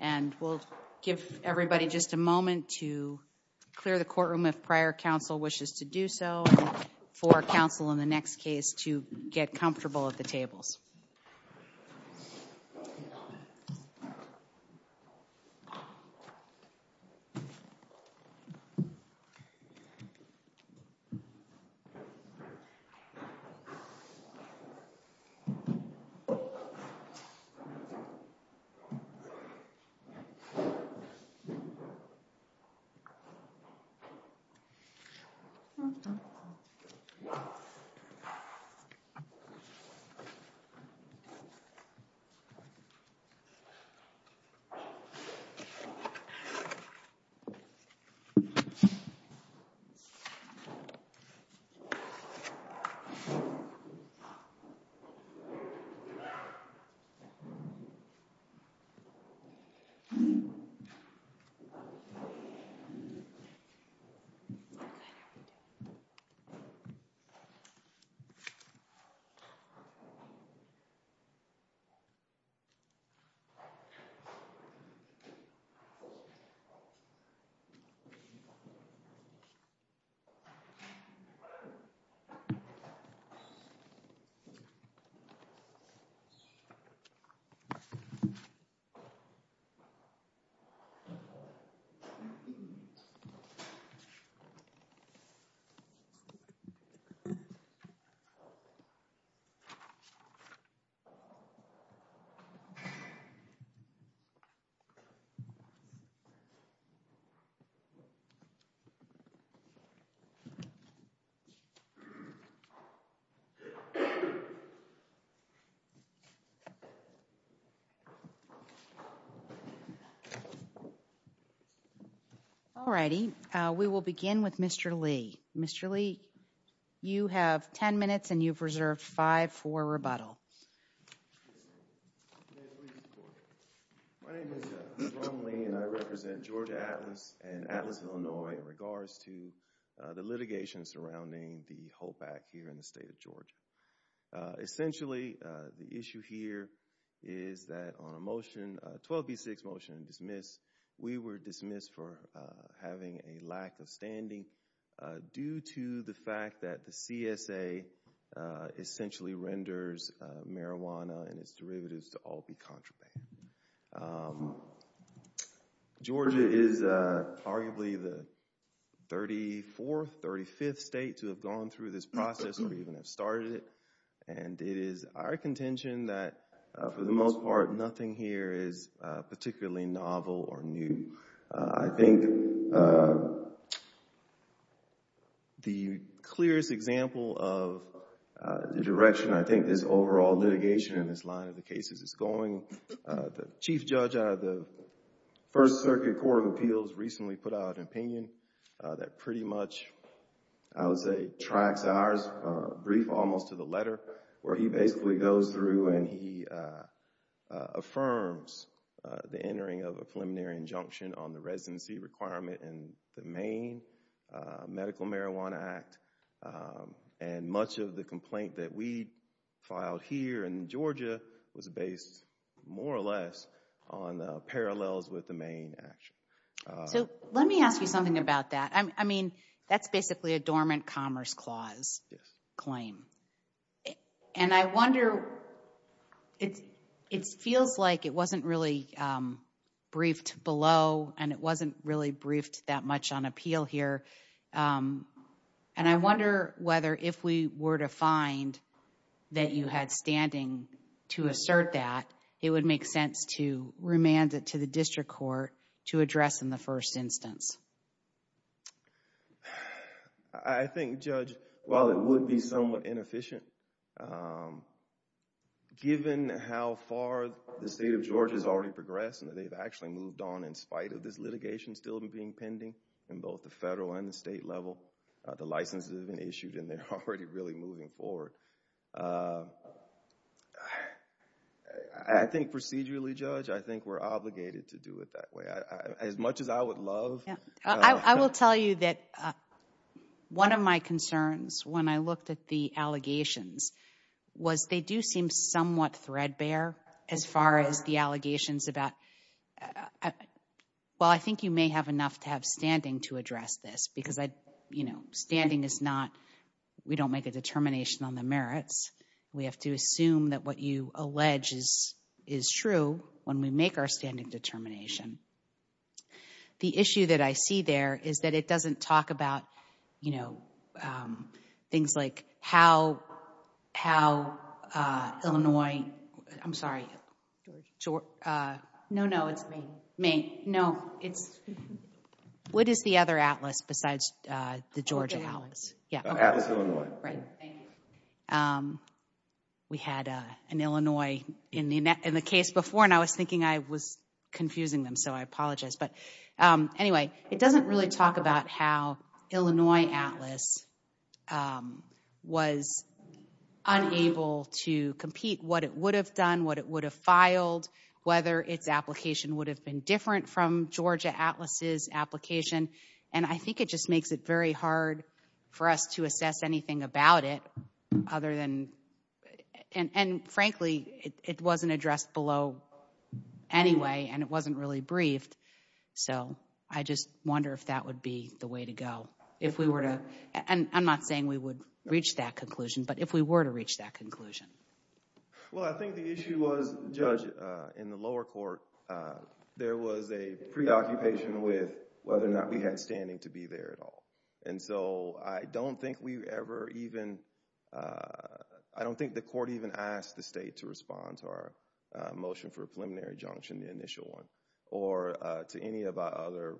And we'll give everybody just a moment to clear the courtroom if prior counsel wishes to do so and for counsel in the next case to get comfortable at the tables. Alrighty, we will begin with Mr. Lee. Mr. Lee, you have 10 minutes and you've reserved 5 for rebuttal. My name is LeBron Lee and I represent Georgia Atlas and Atlas, Illinois in regards to the litigation surrounding the hold back here in the state of Georgia. Essentially, the issue here is that on a motion, a 12B6 motion to dismiss, we were dismissed for having a lack of standing due to the fact that the CSA essentially renders marijuana and its derivatives to all be contraband. Georgia is arguably the 34th, 35th state to have gone through this process or even have started it and it is our contention that for the most part, nothing here is particularly novel or new. I think the clearest example of the direction I think this overall litigation in this line of the cases is going, the Chief Judge out of the First Circuit Court of Appeals recently put out an opinion that pretty much, I would say, tracks ours. He basically goes through and he affirms the entering of a preliminary injunction on the residency requirement in the Maine Medical Marijuana Act and much of the complaint that we filed here in Georgia was based more or less on parallels with the Maine action. So let me ask you something about that. I mean, that's basically a dormant commerce clause claim. And I wonder, it feels like it wasn't really briefed below and it wasn't really briefed that much on appeal here. And I wonder whether if we were to find that you had standing to assert that, it would make sense to remand it to the district court to address in the first instance. I think, Judge, while it would be somewhat inefficient, given how far the state of Georgia has already progressed and they've actually moved on in spite of this litigation still being pending in both the federal and the state level, the licenses have been issued and they're already really moving forward. So I think procedurally, Judge, I think we're obligated to do it that way. As much as I would love. I will tell you that one of my concerns when I looked at the allegations was they do seem somewhat threadbare as far as the allegations about. Well, I think you may have enough to have standing to address this because, you know, standing is not we don't make a determination on the merits. We have to assume that what you allege is is true when we make our standing determination. The issue that I see there is that it doesn't talk about, you know, things like how how Illinois. I'm sorry. No, no, it's me. Me. No, it's. What is the other Atlas besides the Georgia Atlas? Yeah. Right. We had an Illinois in the in the case before, and I was thinking I was confusing them, so I apologize. But anyway, it doesn't really talk about how Illinois Atlas was unable to compete what it would have done, what it would have filed, whether its application would have been different from Georgia Atlas's application. And I think it just makes it very hard for us to assess anything about it other than and frankly, it wasn't addressed below anyway and it wasn't really briefed. So I just wonder if that would be the way to go if we were to. And I'm not saying we would reach that conclusion, but if we were to reach that conclusion. Well, I think the issue was, Judge, in the lower court, there was a preoccupation with whether or not we had standing to be there at all. And so I don't think we ever even. I don't think the court even asked the state to respond to our motion for preliminary junction, the initial one or to any of our other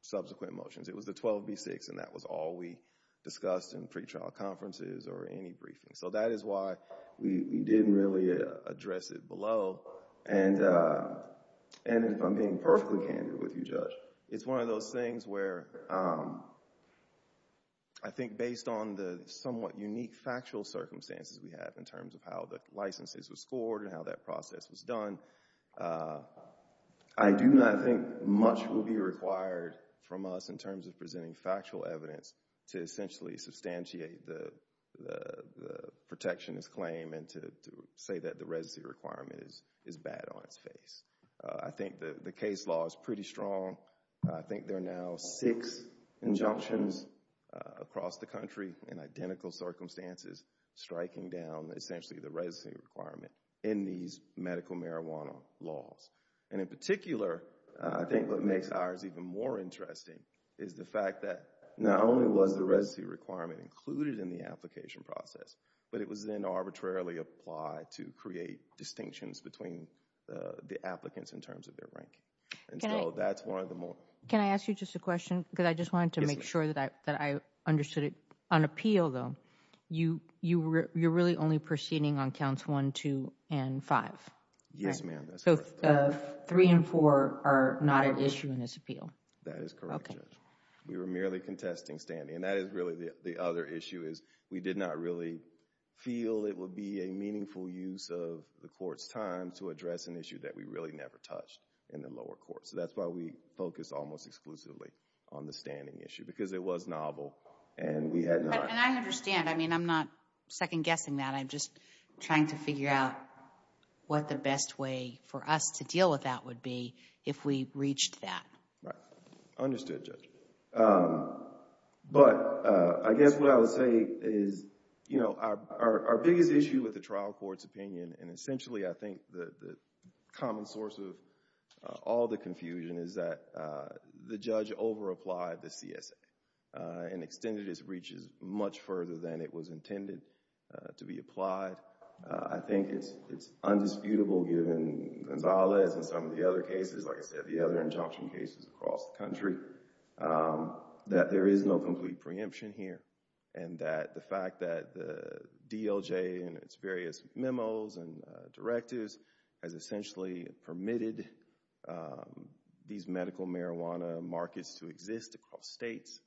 subsequent motions. It was the 12 v. 6, and that was all we discussed in pretrial conferences or any briefing. So that is why we didn't really address it below. And if I'm being perfectly candid with you, Judge, it's one of those things where I think based on the somewhat unique factual circumstances we have in terms of how the licenses was scored and how that process was done, I do not think much will be required from us in terms of presenting factual evidence to essentially substantiate the protectionist claim and to say that the residency requirement is bad on its face. I think the case law is pretty strong. I think there are now six injunctions across the country in identical circumstances striking down essentially the residency requirement in these medical marijuana laws. And in particular, I think what makes ours even more interesting is the fact that not only was the residency requirement included in the application process, but it was then arbitrarily applied to create distinctions between the applicants in terms of their ranking. And so that's one of the more... Can I ask you just a question? Yes, ma'am. Because I just wanted to make sure that I understood it. On appeal, though, you're really only proceeding on counts 1, 2, and 5, right? Yes, ma'am. So 3 and 4 are not an issue in this appeal? That is correct, Judge. Okay. We were merely contesting standing. And that is really the other issue is we did not really feel it would be a meaningful use of the court's time to address an issue that we really never touched in the lower court. So that's why we focused almost exclusively on the standing issue because it was novel and we had not... And I understand. I mean, I'm not second-guessing that. I'm just trying to figure out what the best way for us to deal with that would be if we reached that. Right. Understood, Judge. But I guess what I would say is, you know, our biggest issue with the trial court's opinion, and essentially I think the common source of all the confusion, is that the judge over-applied the CSA and extended its breaches much further than it was intended to be applied. I think it's undisputable given Gonzalez and some of the other cases, like I said, the other injunction cases across the country, that there is no complete preemption here. And that the fact that the DOJ and its various memos and directives has essentially permitted these medical marijuana markets to exist across states,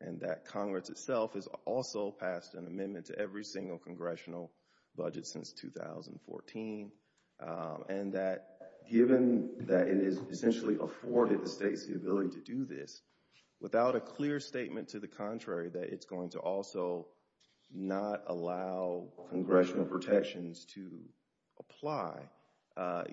and that Congress itself has also passed an amendment to every single congressional budget since 2014, and that given that it is essentially afforded the state's ability to do this, without a clear statement to the contrary that it's going to also not allow congressional protections to apply,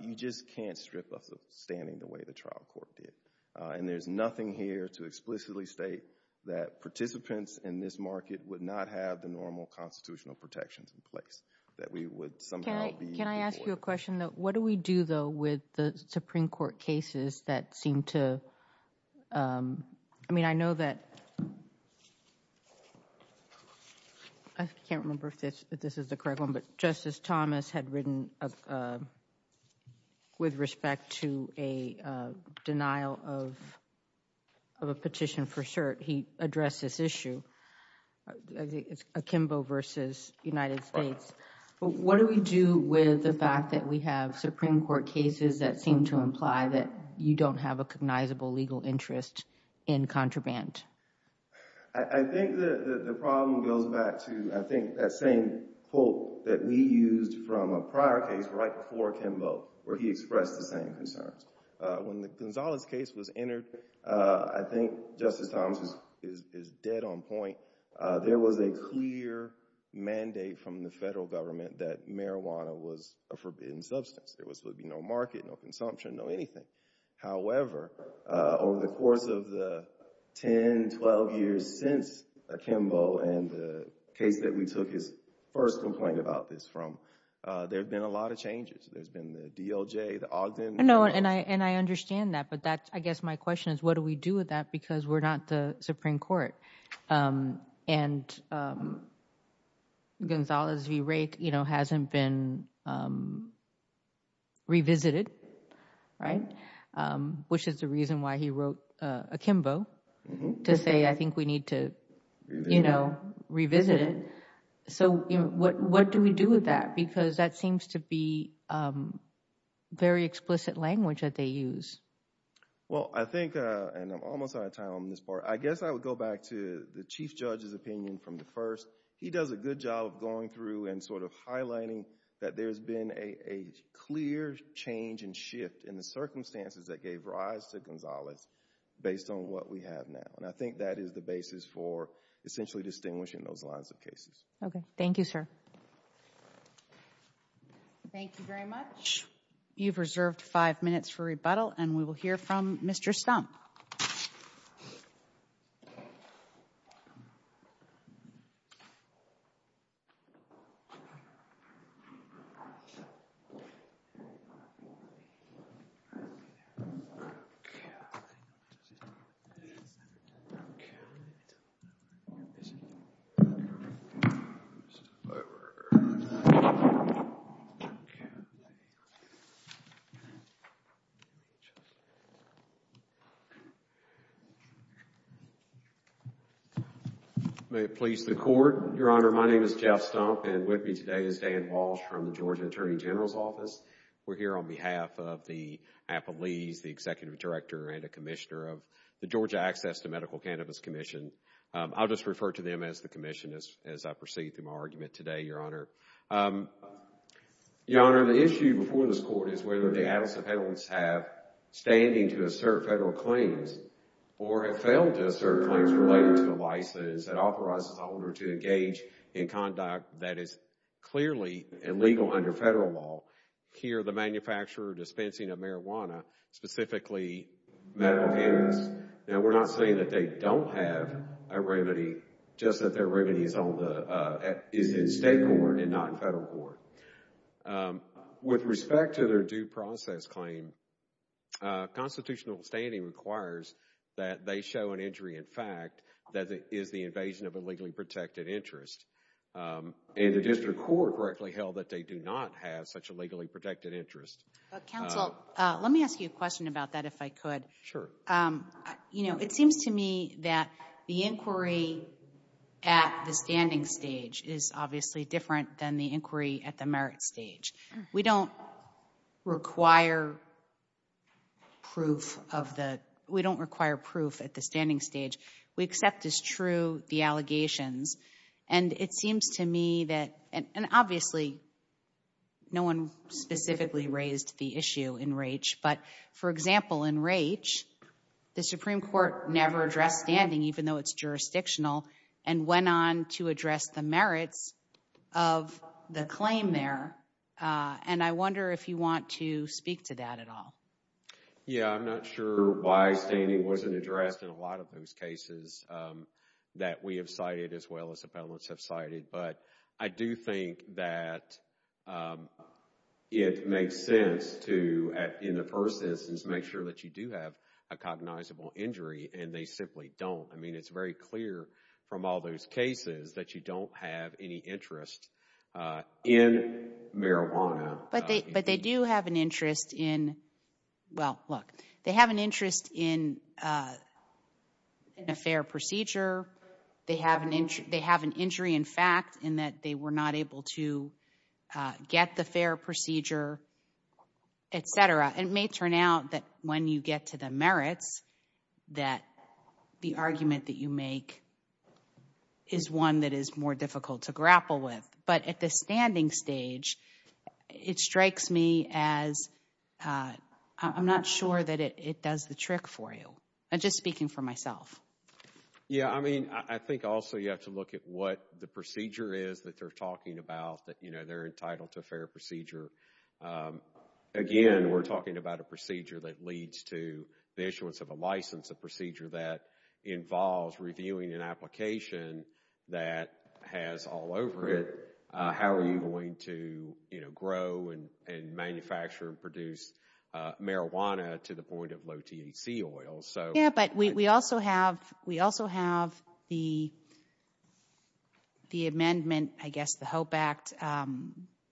you just can't strip us of standing the way the trial court did. And there's nothing here to explicitly state that participants in this market would not have the normal constitutional protections in place, that we would somehow be— Can I ask you a question? What do we do, though, with the Supreme Court cases that seem to—I mean, I know that—I can't remember if this is the correct one, but Justice Thomas had written, with respect to a denial of a petition for cert, he addressed this issue. I think it's Akimbo v. United States. What do we do with the fact that we have Supreme Court cases that seem to imply that you don't have a cognizable legal interest in contraband? I think the problem goes back to, I think, that same quote that we used from a prior case right before Akimbo, where he expressed the same concerns. When the Gonzalez case was entered, I think Justice Thomas is dead on point. There was a clear mandate from the federal government that marijuana was a forbidden substance. There would be no market, no consumption, no anything. However, over the course of the 10, 12 years since Akimbo, and the case that we took his first complaint about this from, there have been a lot of changes. There's been the DOJ, the Ogden— No, and I understand that, but I guess my question is, what do we do with that because we're not the Supreme Court? And Gonzalez v. Rake hasn't been revisited, which is the reason why he wrote Akimbo, to say, I think we need to revisit it. What do we do with that? Because that seems to be very explicit language that they use. Well, I think, and I'm almost out of time on this part, I guess I would go back to the Chief Judge's opinion from the first. He does a good job of going through and sort of highlighting that there's been a clear change and shift in the circumstances that gave rise to Gonzalez based on what we have now. And I think that is the basis for essentially distinguishing those lines of cases. Okay. Thank you, sir. Thank you very much. You've reserved five minutes for rebuttal, and we will hear from Mr. Stump. Okay. May it please the Court. Your Honor, my name is Jeff Stump, and with me today is Dan Walsh from the Georgia Attorney General's Office. We're here on behalf of the Appellees, the Executive Director, and a Commissioner of the Georgia Access to Medical Cannabis Commission. I'll just refer to them as the Commission as I proceed through my argument today, Your Honor. Your Honor, the issue before this Court is whether the adequate appellants have standing to assert federal claims or have failed to assert claims related to the license that authorizes the owner to engage in conduct that is clearly illegal under federal law. Here, the manufacturer dispensing of marijuana, specifically medical cannabis. Now, we're not saying that they don't have a remedy, just that their remedy is in state court and not in federal court. With respect to their due process claim, constitutional standing requires that they show an injury in fact that is the invasion of a legally protected interest. And the district court correctly held that they do not have such a legally protected interest. Counsel, let me ask you a question about that if I could. Sure. You know, it seems to me that the inquiry at the standing stage is obviously different than the inquiry at the merit stage. We don't require proof of the, we don't require proof at the standing stage. We accept as true the allegations. And it seems to me that, and obviously, no one specifically raised the issue in Raich. But, for example, in Raich, the Supreme Court never addressed standing even though it's jurisdictional and went on to address the merits of the claim there. And I wonder if you want to speak to that at all. Yeah, I'm not sure why standing wasn't addressed in a lot of those cases that we have cited as well as appellants have cited. But I do think that it makes sense to, in the first instance, make sure that you do have a cognizable injury and they simply don't. I mean, it's very clear from all those cases that you don't have any interest in marijuana. But they do have an interest in, well, look, they have an interest in a fair procedure. They have an injury in fact in that they were not able to get the fair procedure, etc. And it may turn out that when you get to the merits that the argument that you make is one that is more difficult to grapple with. But at the standing stage, it strikes me as I'm not sure that it does the trick for you. I'm just speaking for myself. Yeah, I mean, I think also you have to look at what the procedure is that they're talking about that, you know, they're entitled to a fair procedure. Again, we're talking about a procedure that leads to the issuance of a license, a procedure that involves reviewing an application that has all over it. How are you going to, you know, grow and manufacture and produce marijuana to the point of low THC oils? Yeah, but we also have the amendment, I guess the HOPE Act,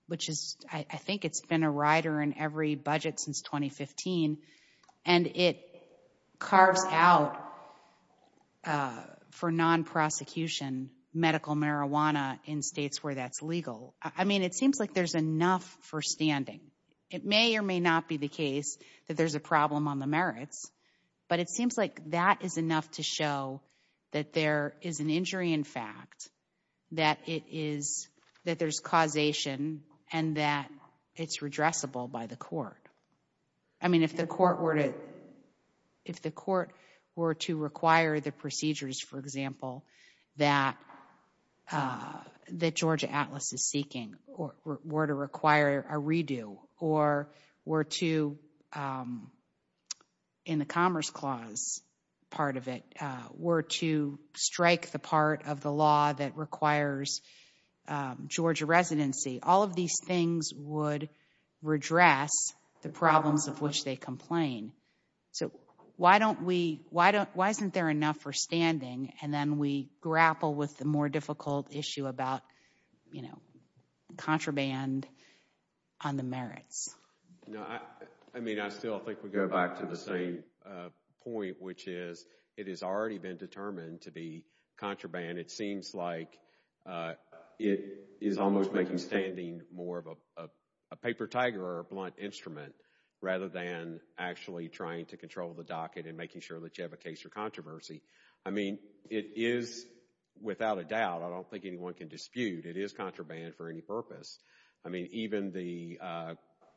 which is, I think it's been a rider in every budget since 2015. And it carves out for non-prosecution medical marijuana in states where that's legal. I mean, it seems like there's enough for standing. It may or may not be the case that there's a problem on the merits, but it seems like that is enough to show that there is an injury in fact, that it is, that there's causation, and that it's redressable by the court. I mean, if the court were to require the procedures, for example, that Georgia Atlas is seeking or were to require a redo or were to, in the Commerce Clause part of it, were to strike the part of the law that requires Georgia residency, all of these things would redress the problems of which they complain. So, why don't we, why isn't there enough for standing? And then we grapple with the more difficult issue about, you know, contraband on the merits. No, I mean, I still think we go back to the same point, which is, it has already been determined to be contraband. It seems like it is almost making standing more of a paper tiger or a blunt instrument, rather than actually trying to control the docket and making sure that you have a case for controversy. I mean, it is, without a doubt, I don't think anyone can dispute, it is contraband for any purpose. I mean, even the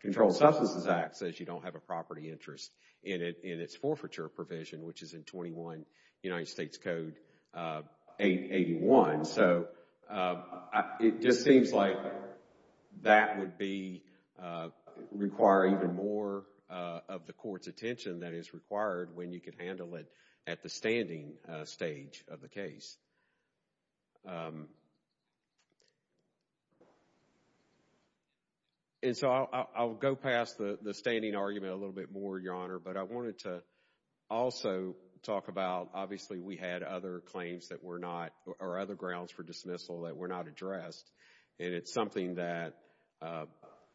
Controlled Substances Act says you don't have a property interest in its forfeiture provision, which is in 21 United States Code 881. So, it just seems like that would be, require even more of the Court's attention than is required when you can handle it at the standing stage of the case. And so, I will go past the standing argument a little bit more, Your Honor. But I wanted to also talk about, obviously, we had other claims that were not, or other grounds for dismissal that were not addressed. And it is something that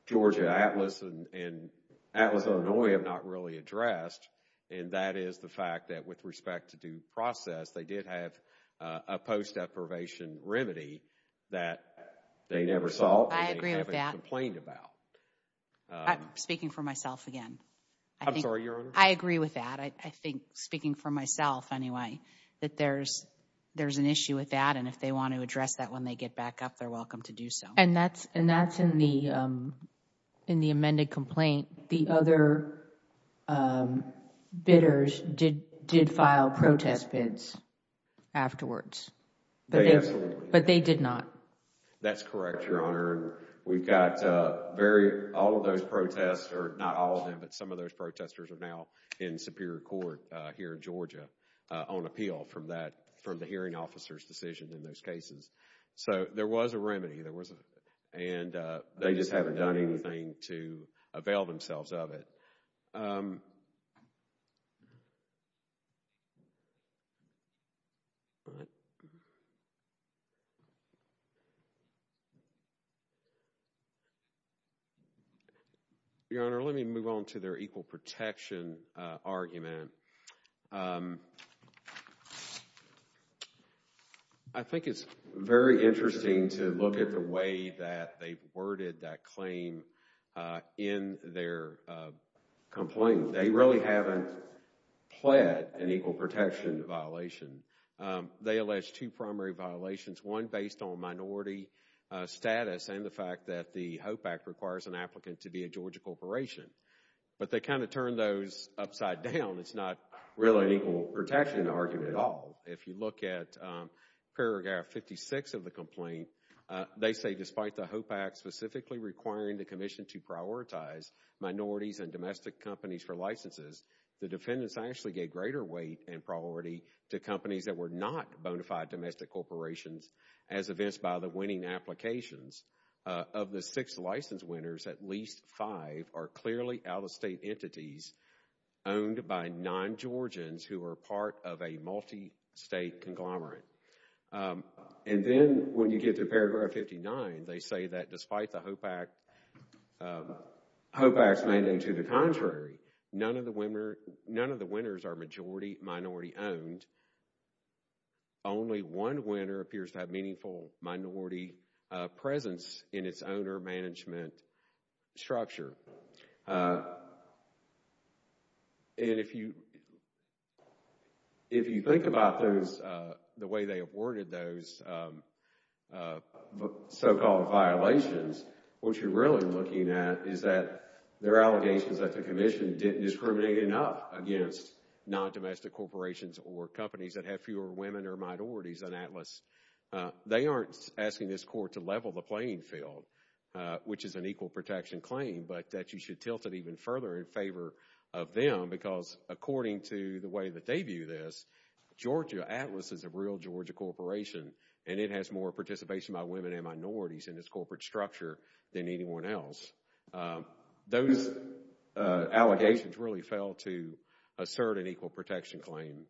Georgia, Atlas, and Atlas, Illinois have not really addressed. And that is the fact that, with respect to due process, they did have a post-approvation remedy that they never solved. I agree with that. And they haven't complained about. I'm speaking for myself again. I'm sorry, Your Honor. I agree with that. I think, speaking for myself anyway, that there's an issue with that. And if they want to address that when they get back up, they're welcome to do so. And that's in the amended complaint. The other bidders did file protest bids afterwards. But they did not. That's correct, Your Honor. We've got very, all of those protests, or not all of them, but some of those protesters are now in Superior Court here in Georgia on appeal from that, from the hearing officer's decision in those cases. So, there was a remedy. And they just haven't done anything to avail themselves of it. Your Honor, let me move on to their equal protection argument. I think it's very interesting to look at the way that they've worded that claim in their complaint. They really haven't pled an equal protection violation. They allege two primary violations, one based on minority status and the fact that the HOPE Act requires an applicant to be a Georgia corporation. But they kind of turn those upside down. It's not really an equal protection argument at all. If you look at paragraph 56 of the complaint, they say, despite the HOPE Act specifically requiring the commission to prioritize minorities and domestic companies for licenses, the defendants actually gave greater weight and priority to companies that were not bona fide domestic corporations as evinced by the winning applications. Of the six licensed winners, at least five are clearly out-of-state entities owned by non-Georgians who are part of a multi-state conglomerate. And then when you get to paragraph 59, they say that despite the HOPE Act's mandate to the contrary, none of the winners are majority-minority owned. Only one winner appears to have meaningful minority presence in its owner management structure. And if you think about the way they awarded those so-called violations, what you're really looking at is that there are allegations that the commission didn't discriminate enough against non-domestic corporations or companies that have fewer women or minorities than Atlas. They aren't asking this court to level the playing field, which is an equal protection claim, but that you should tilt it even further in favor of them because according to the way that they view this, Georgia, Atlas is a real Georgia corporation, and it has more participation by women and minorities in its corporate structure than anyone else. Those allegations really fail to assert an equal protection claim.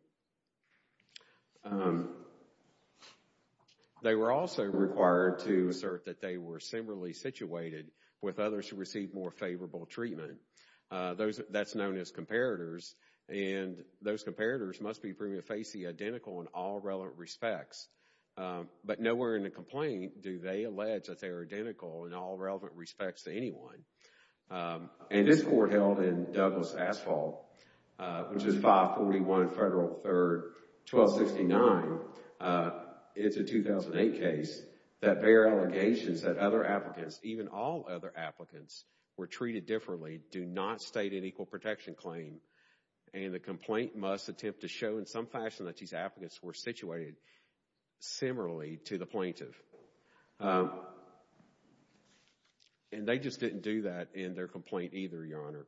They were also required to assert that they were similarly situated with others who received more favorable treatment. That's known as comparators, and those comparators must be proven to face the identical in all relevant respects. But nowhere in the complaint do they allege that they are identical in all relevant respects to anyone. And this court held in Douglas Asphalt, which is 541 Federal 3rd 1269, it's a 2008 case, that their allegations that other applicants, even all other applicants, were treated differently do not state an equal protection claim. And the complaint must attempt to show in some fashion that these applicants were situated similarly to the plaintiff. And they just didn't do that in their complaint either, Your Honor.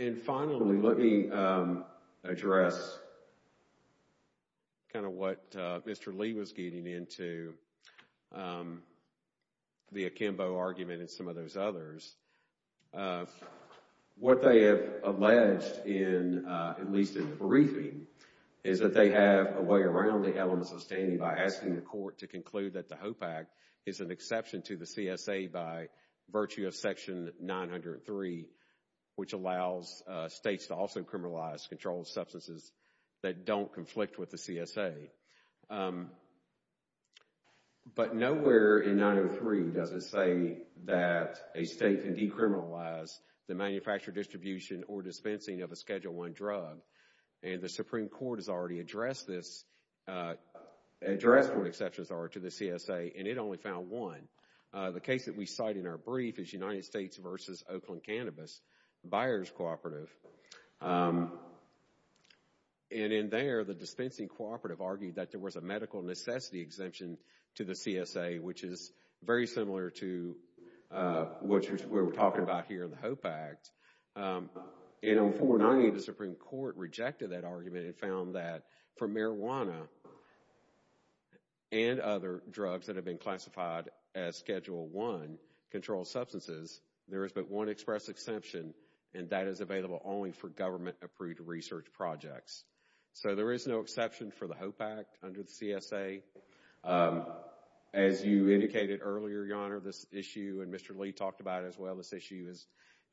And finally, let me address kind of what Mr. Lee was getting into, the Akimbo argument and some of those others. What they have alleged, at least in the briefing, is that they have a way around the elements of standing by asking the court to conclude that the HOPE Act is an exception to the CSA by virtue of Section 903, which allows states to also criminalize controlled substances that don't conflict with the CSA. But nowhere in 903 does it say that a state can decriminalize the manufacture, distribution, or dispensing of a Schedule I drug. And the Supreme Court has already addressed this, addressed what exceptions are to the CSA, and it only found one. The case that we cite in our brief is United States v. Oakland Cannabis, buyer's cooperative. And in there, the dispensing cooperative argued that there was a medical necessity exemption to the CSA, which is very similar to what we're talking about here in the HOPE Act. And on 490, the Supreme Court rejected that argument and found that for marijuana and other drugs that have been classified as Schedule I controlled substances, there is but one express exception, and that is available only for government-approved research projects. So there is no exception for the HOPE Act under the CSA. As you indicated earlier, Your Honor, this issue, and Mr. Lee talked about it as well, this issue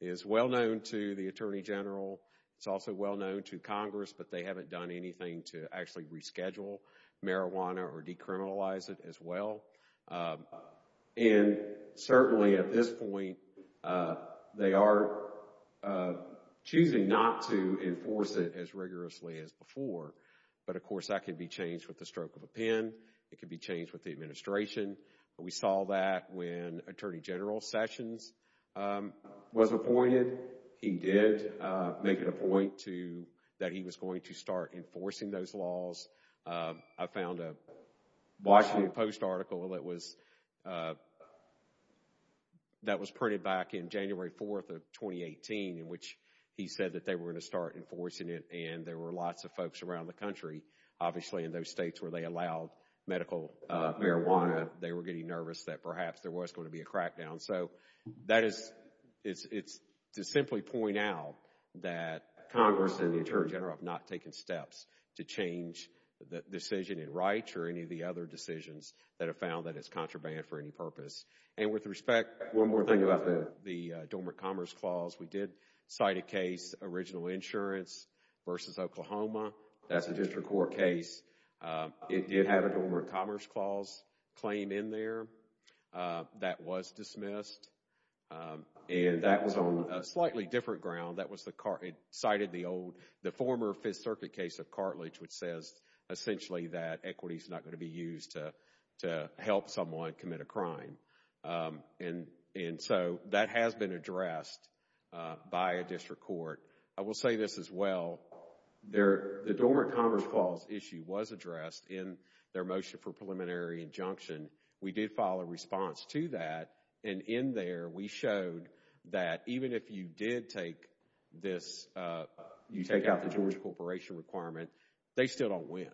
is well known to the Attorney General. It's also well known to Congress, but they haven't done anything to actually reschedule marijuana or decriminalize it as well. And certainly at this point, they are choosing not to enforce it as rigorously as before. But, of course, that could be changed with the stroke of a pen. It could be changed with the administration. We saw that when Attorney General Sessions was appointed. He did make it a point that he was going to start enforcing those laws. I found a Washington Post article that was printed back in January 4th of 2018 in which he said that they were going to start enforcing it. And there were lots of folks around the country, obviously in those states where they allowed medical marijuana, they were getting nervous that perhaps there was going to be a crackdown. So, that is, it's to simply point out that Congress and the Attorney General have not taken steps to change the decision in Wright or any of the other decisions that have found that it's contraband for any purpose. And with respect to the Dormant Commerce Clause, we did cite a case, Original Insurance v. Oklahoma. That's a district court case. It did have a Dormant Commerce Clause claim in there that was dismissed. And that was on a slightly different ground. It cited the former Fifth Circuit case of cartilage which says essentially that equity is not going to be used to help someone commit a crime. And so, that has been addressed by a district court. I will say this as well. The Dormant Commerce Clause issue was addressed in their motion for preliminary injunction. We did file a response to that. And in there, we showed that even if you did take this, you take out the Georgia Corporation requirement, they still don't win.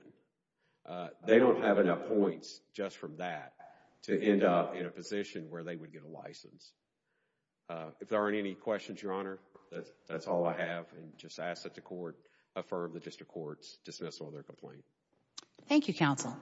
They don't have enough points just from that to end up in a position where they would get a license. If there aren't any questions, Your Honor, that's all I have. And just ask that the court affirm the district court's dismissal of their complaint. Thank you, counsel.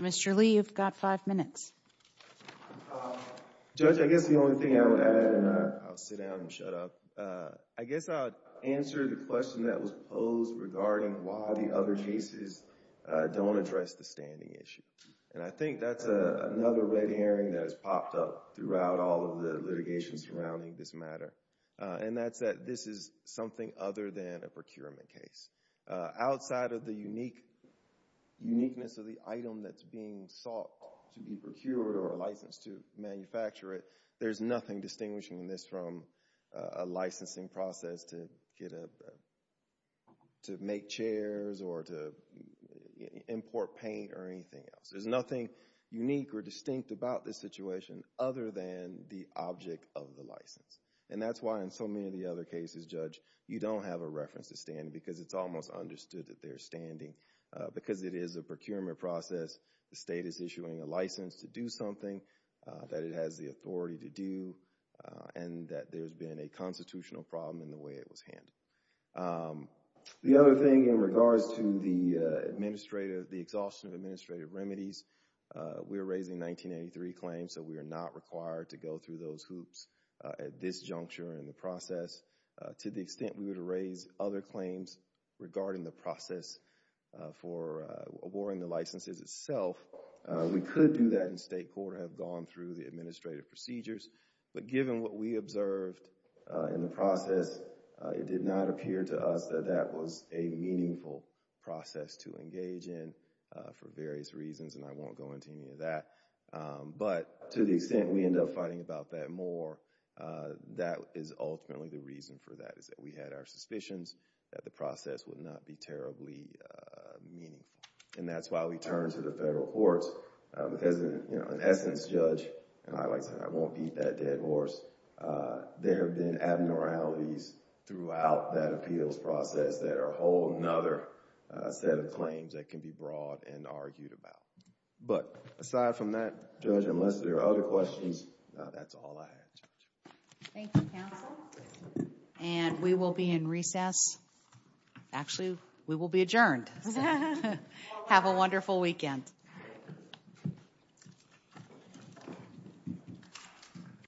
Mr. Lee, you've got five minutes. Judge, I guess the only thing I would add, and I'll sit down and shut up. I guess I would answer the question that was posed regarding why the other cases don't address the standing issue. And I think that's another red herring that has popped up throughout all of the litigation surrounding this matter. And that's that this is something other than a procurement case. Outside of the uniqueness of the item that's being sought to be procured or licensed to manufacture it, there's nothing distinguishing this from a licensing process to make chairs or to import paint or anything else. There's nothing unique or distinct about this situation other than the object of the license. And that's why in so many of the other cases, Judge, you don't have a reference to standing because it's almost understood that there's standing because it is a procurement process. The state is issuing a license to do something that it has the authority to do and that there's been a constitutional problem in the way it was handled. The other thing in regards to the administrative, the exhaustion of administrative remedies, we are raising 1983 claims, so we are not required to go through those hoops at this juncture in the process. To the extent we were to raise other claims regarding the process for awarding the licenses itself, we could do that in state court or have gone through the administrative procedures. But given what we observed in the process, it did not appear to us that that was a meaningful process to engage in for various reasons, and I won't go into any of that. But to the extent we end up fighting about that more, that is ultimately the reason for that, is that we had our suspicions that the process would not be terribly meaningful. And that's why we turned to the federal courts because in essence, Judge, and I like to say I won't beat that dead horse, there have been abnormalities throughout that appeals process that are a whole other set of claims that can be brought and argued about. But aside from that, Judge, unless there are other questions, that's all I have. Thank you, counsel. And we will be in recess. Actually, we will be adjourned. Have a wonderful weekend.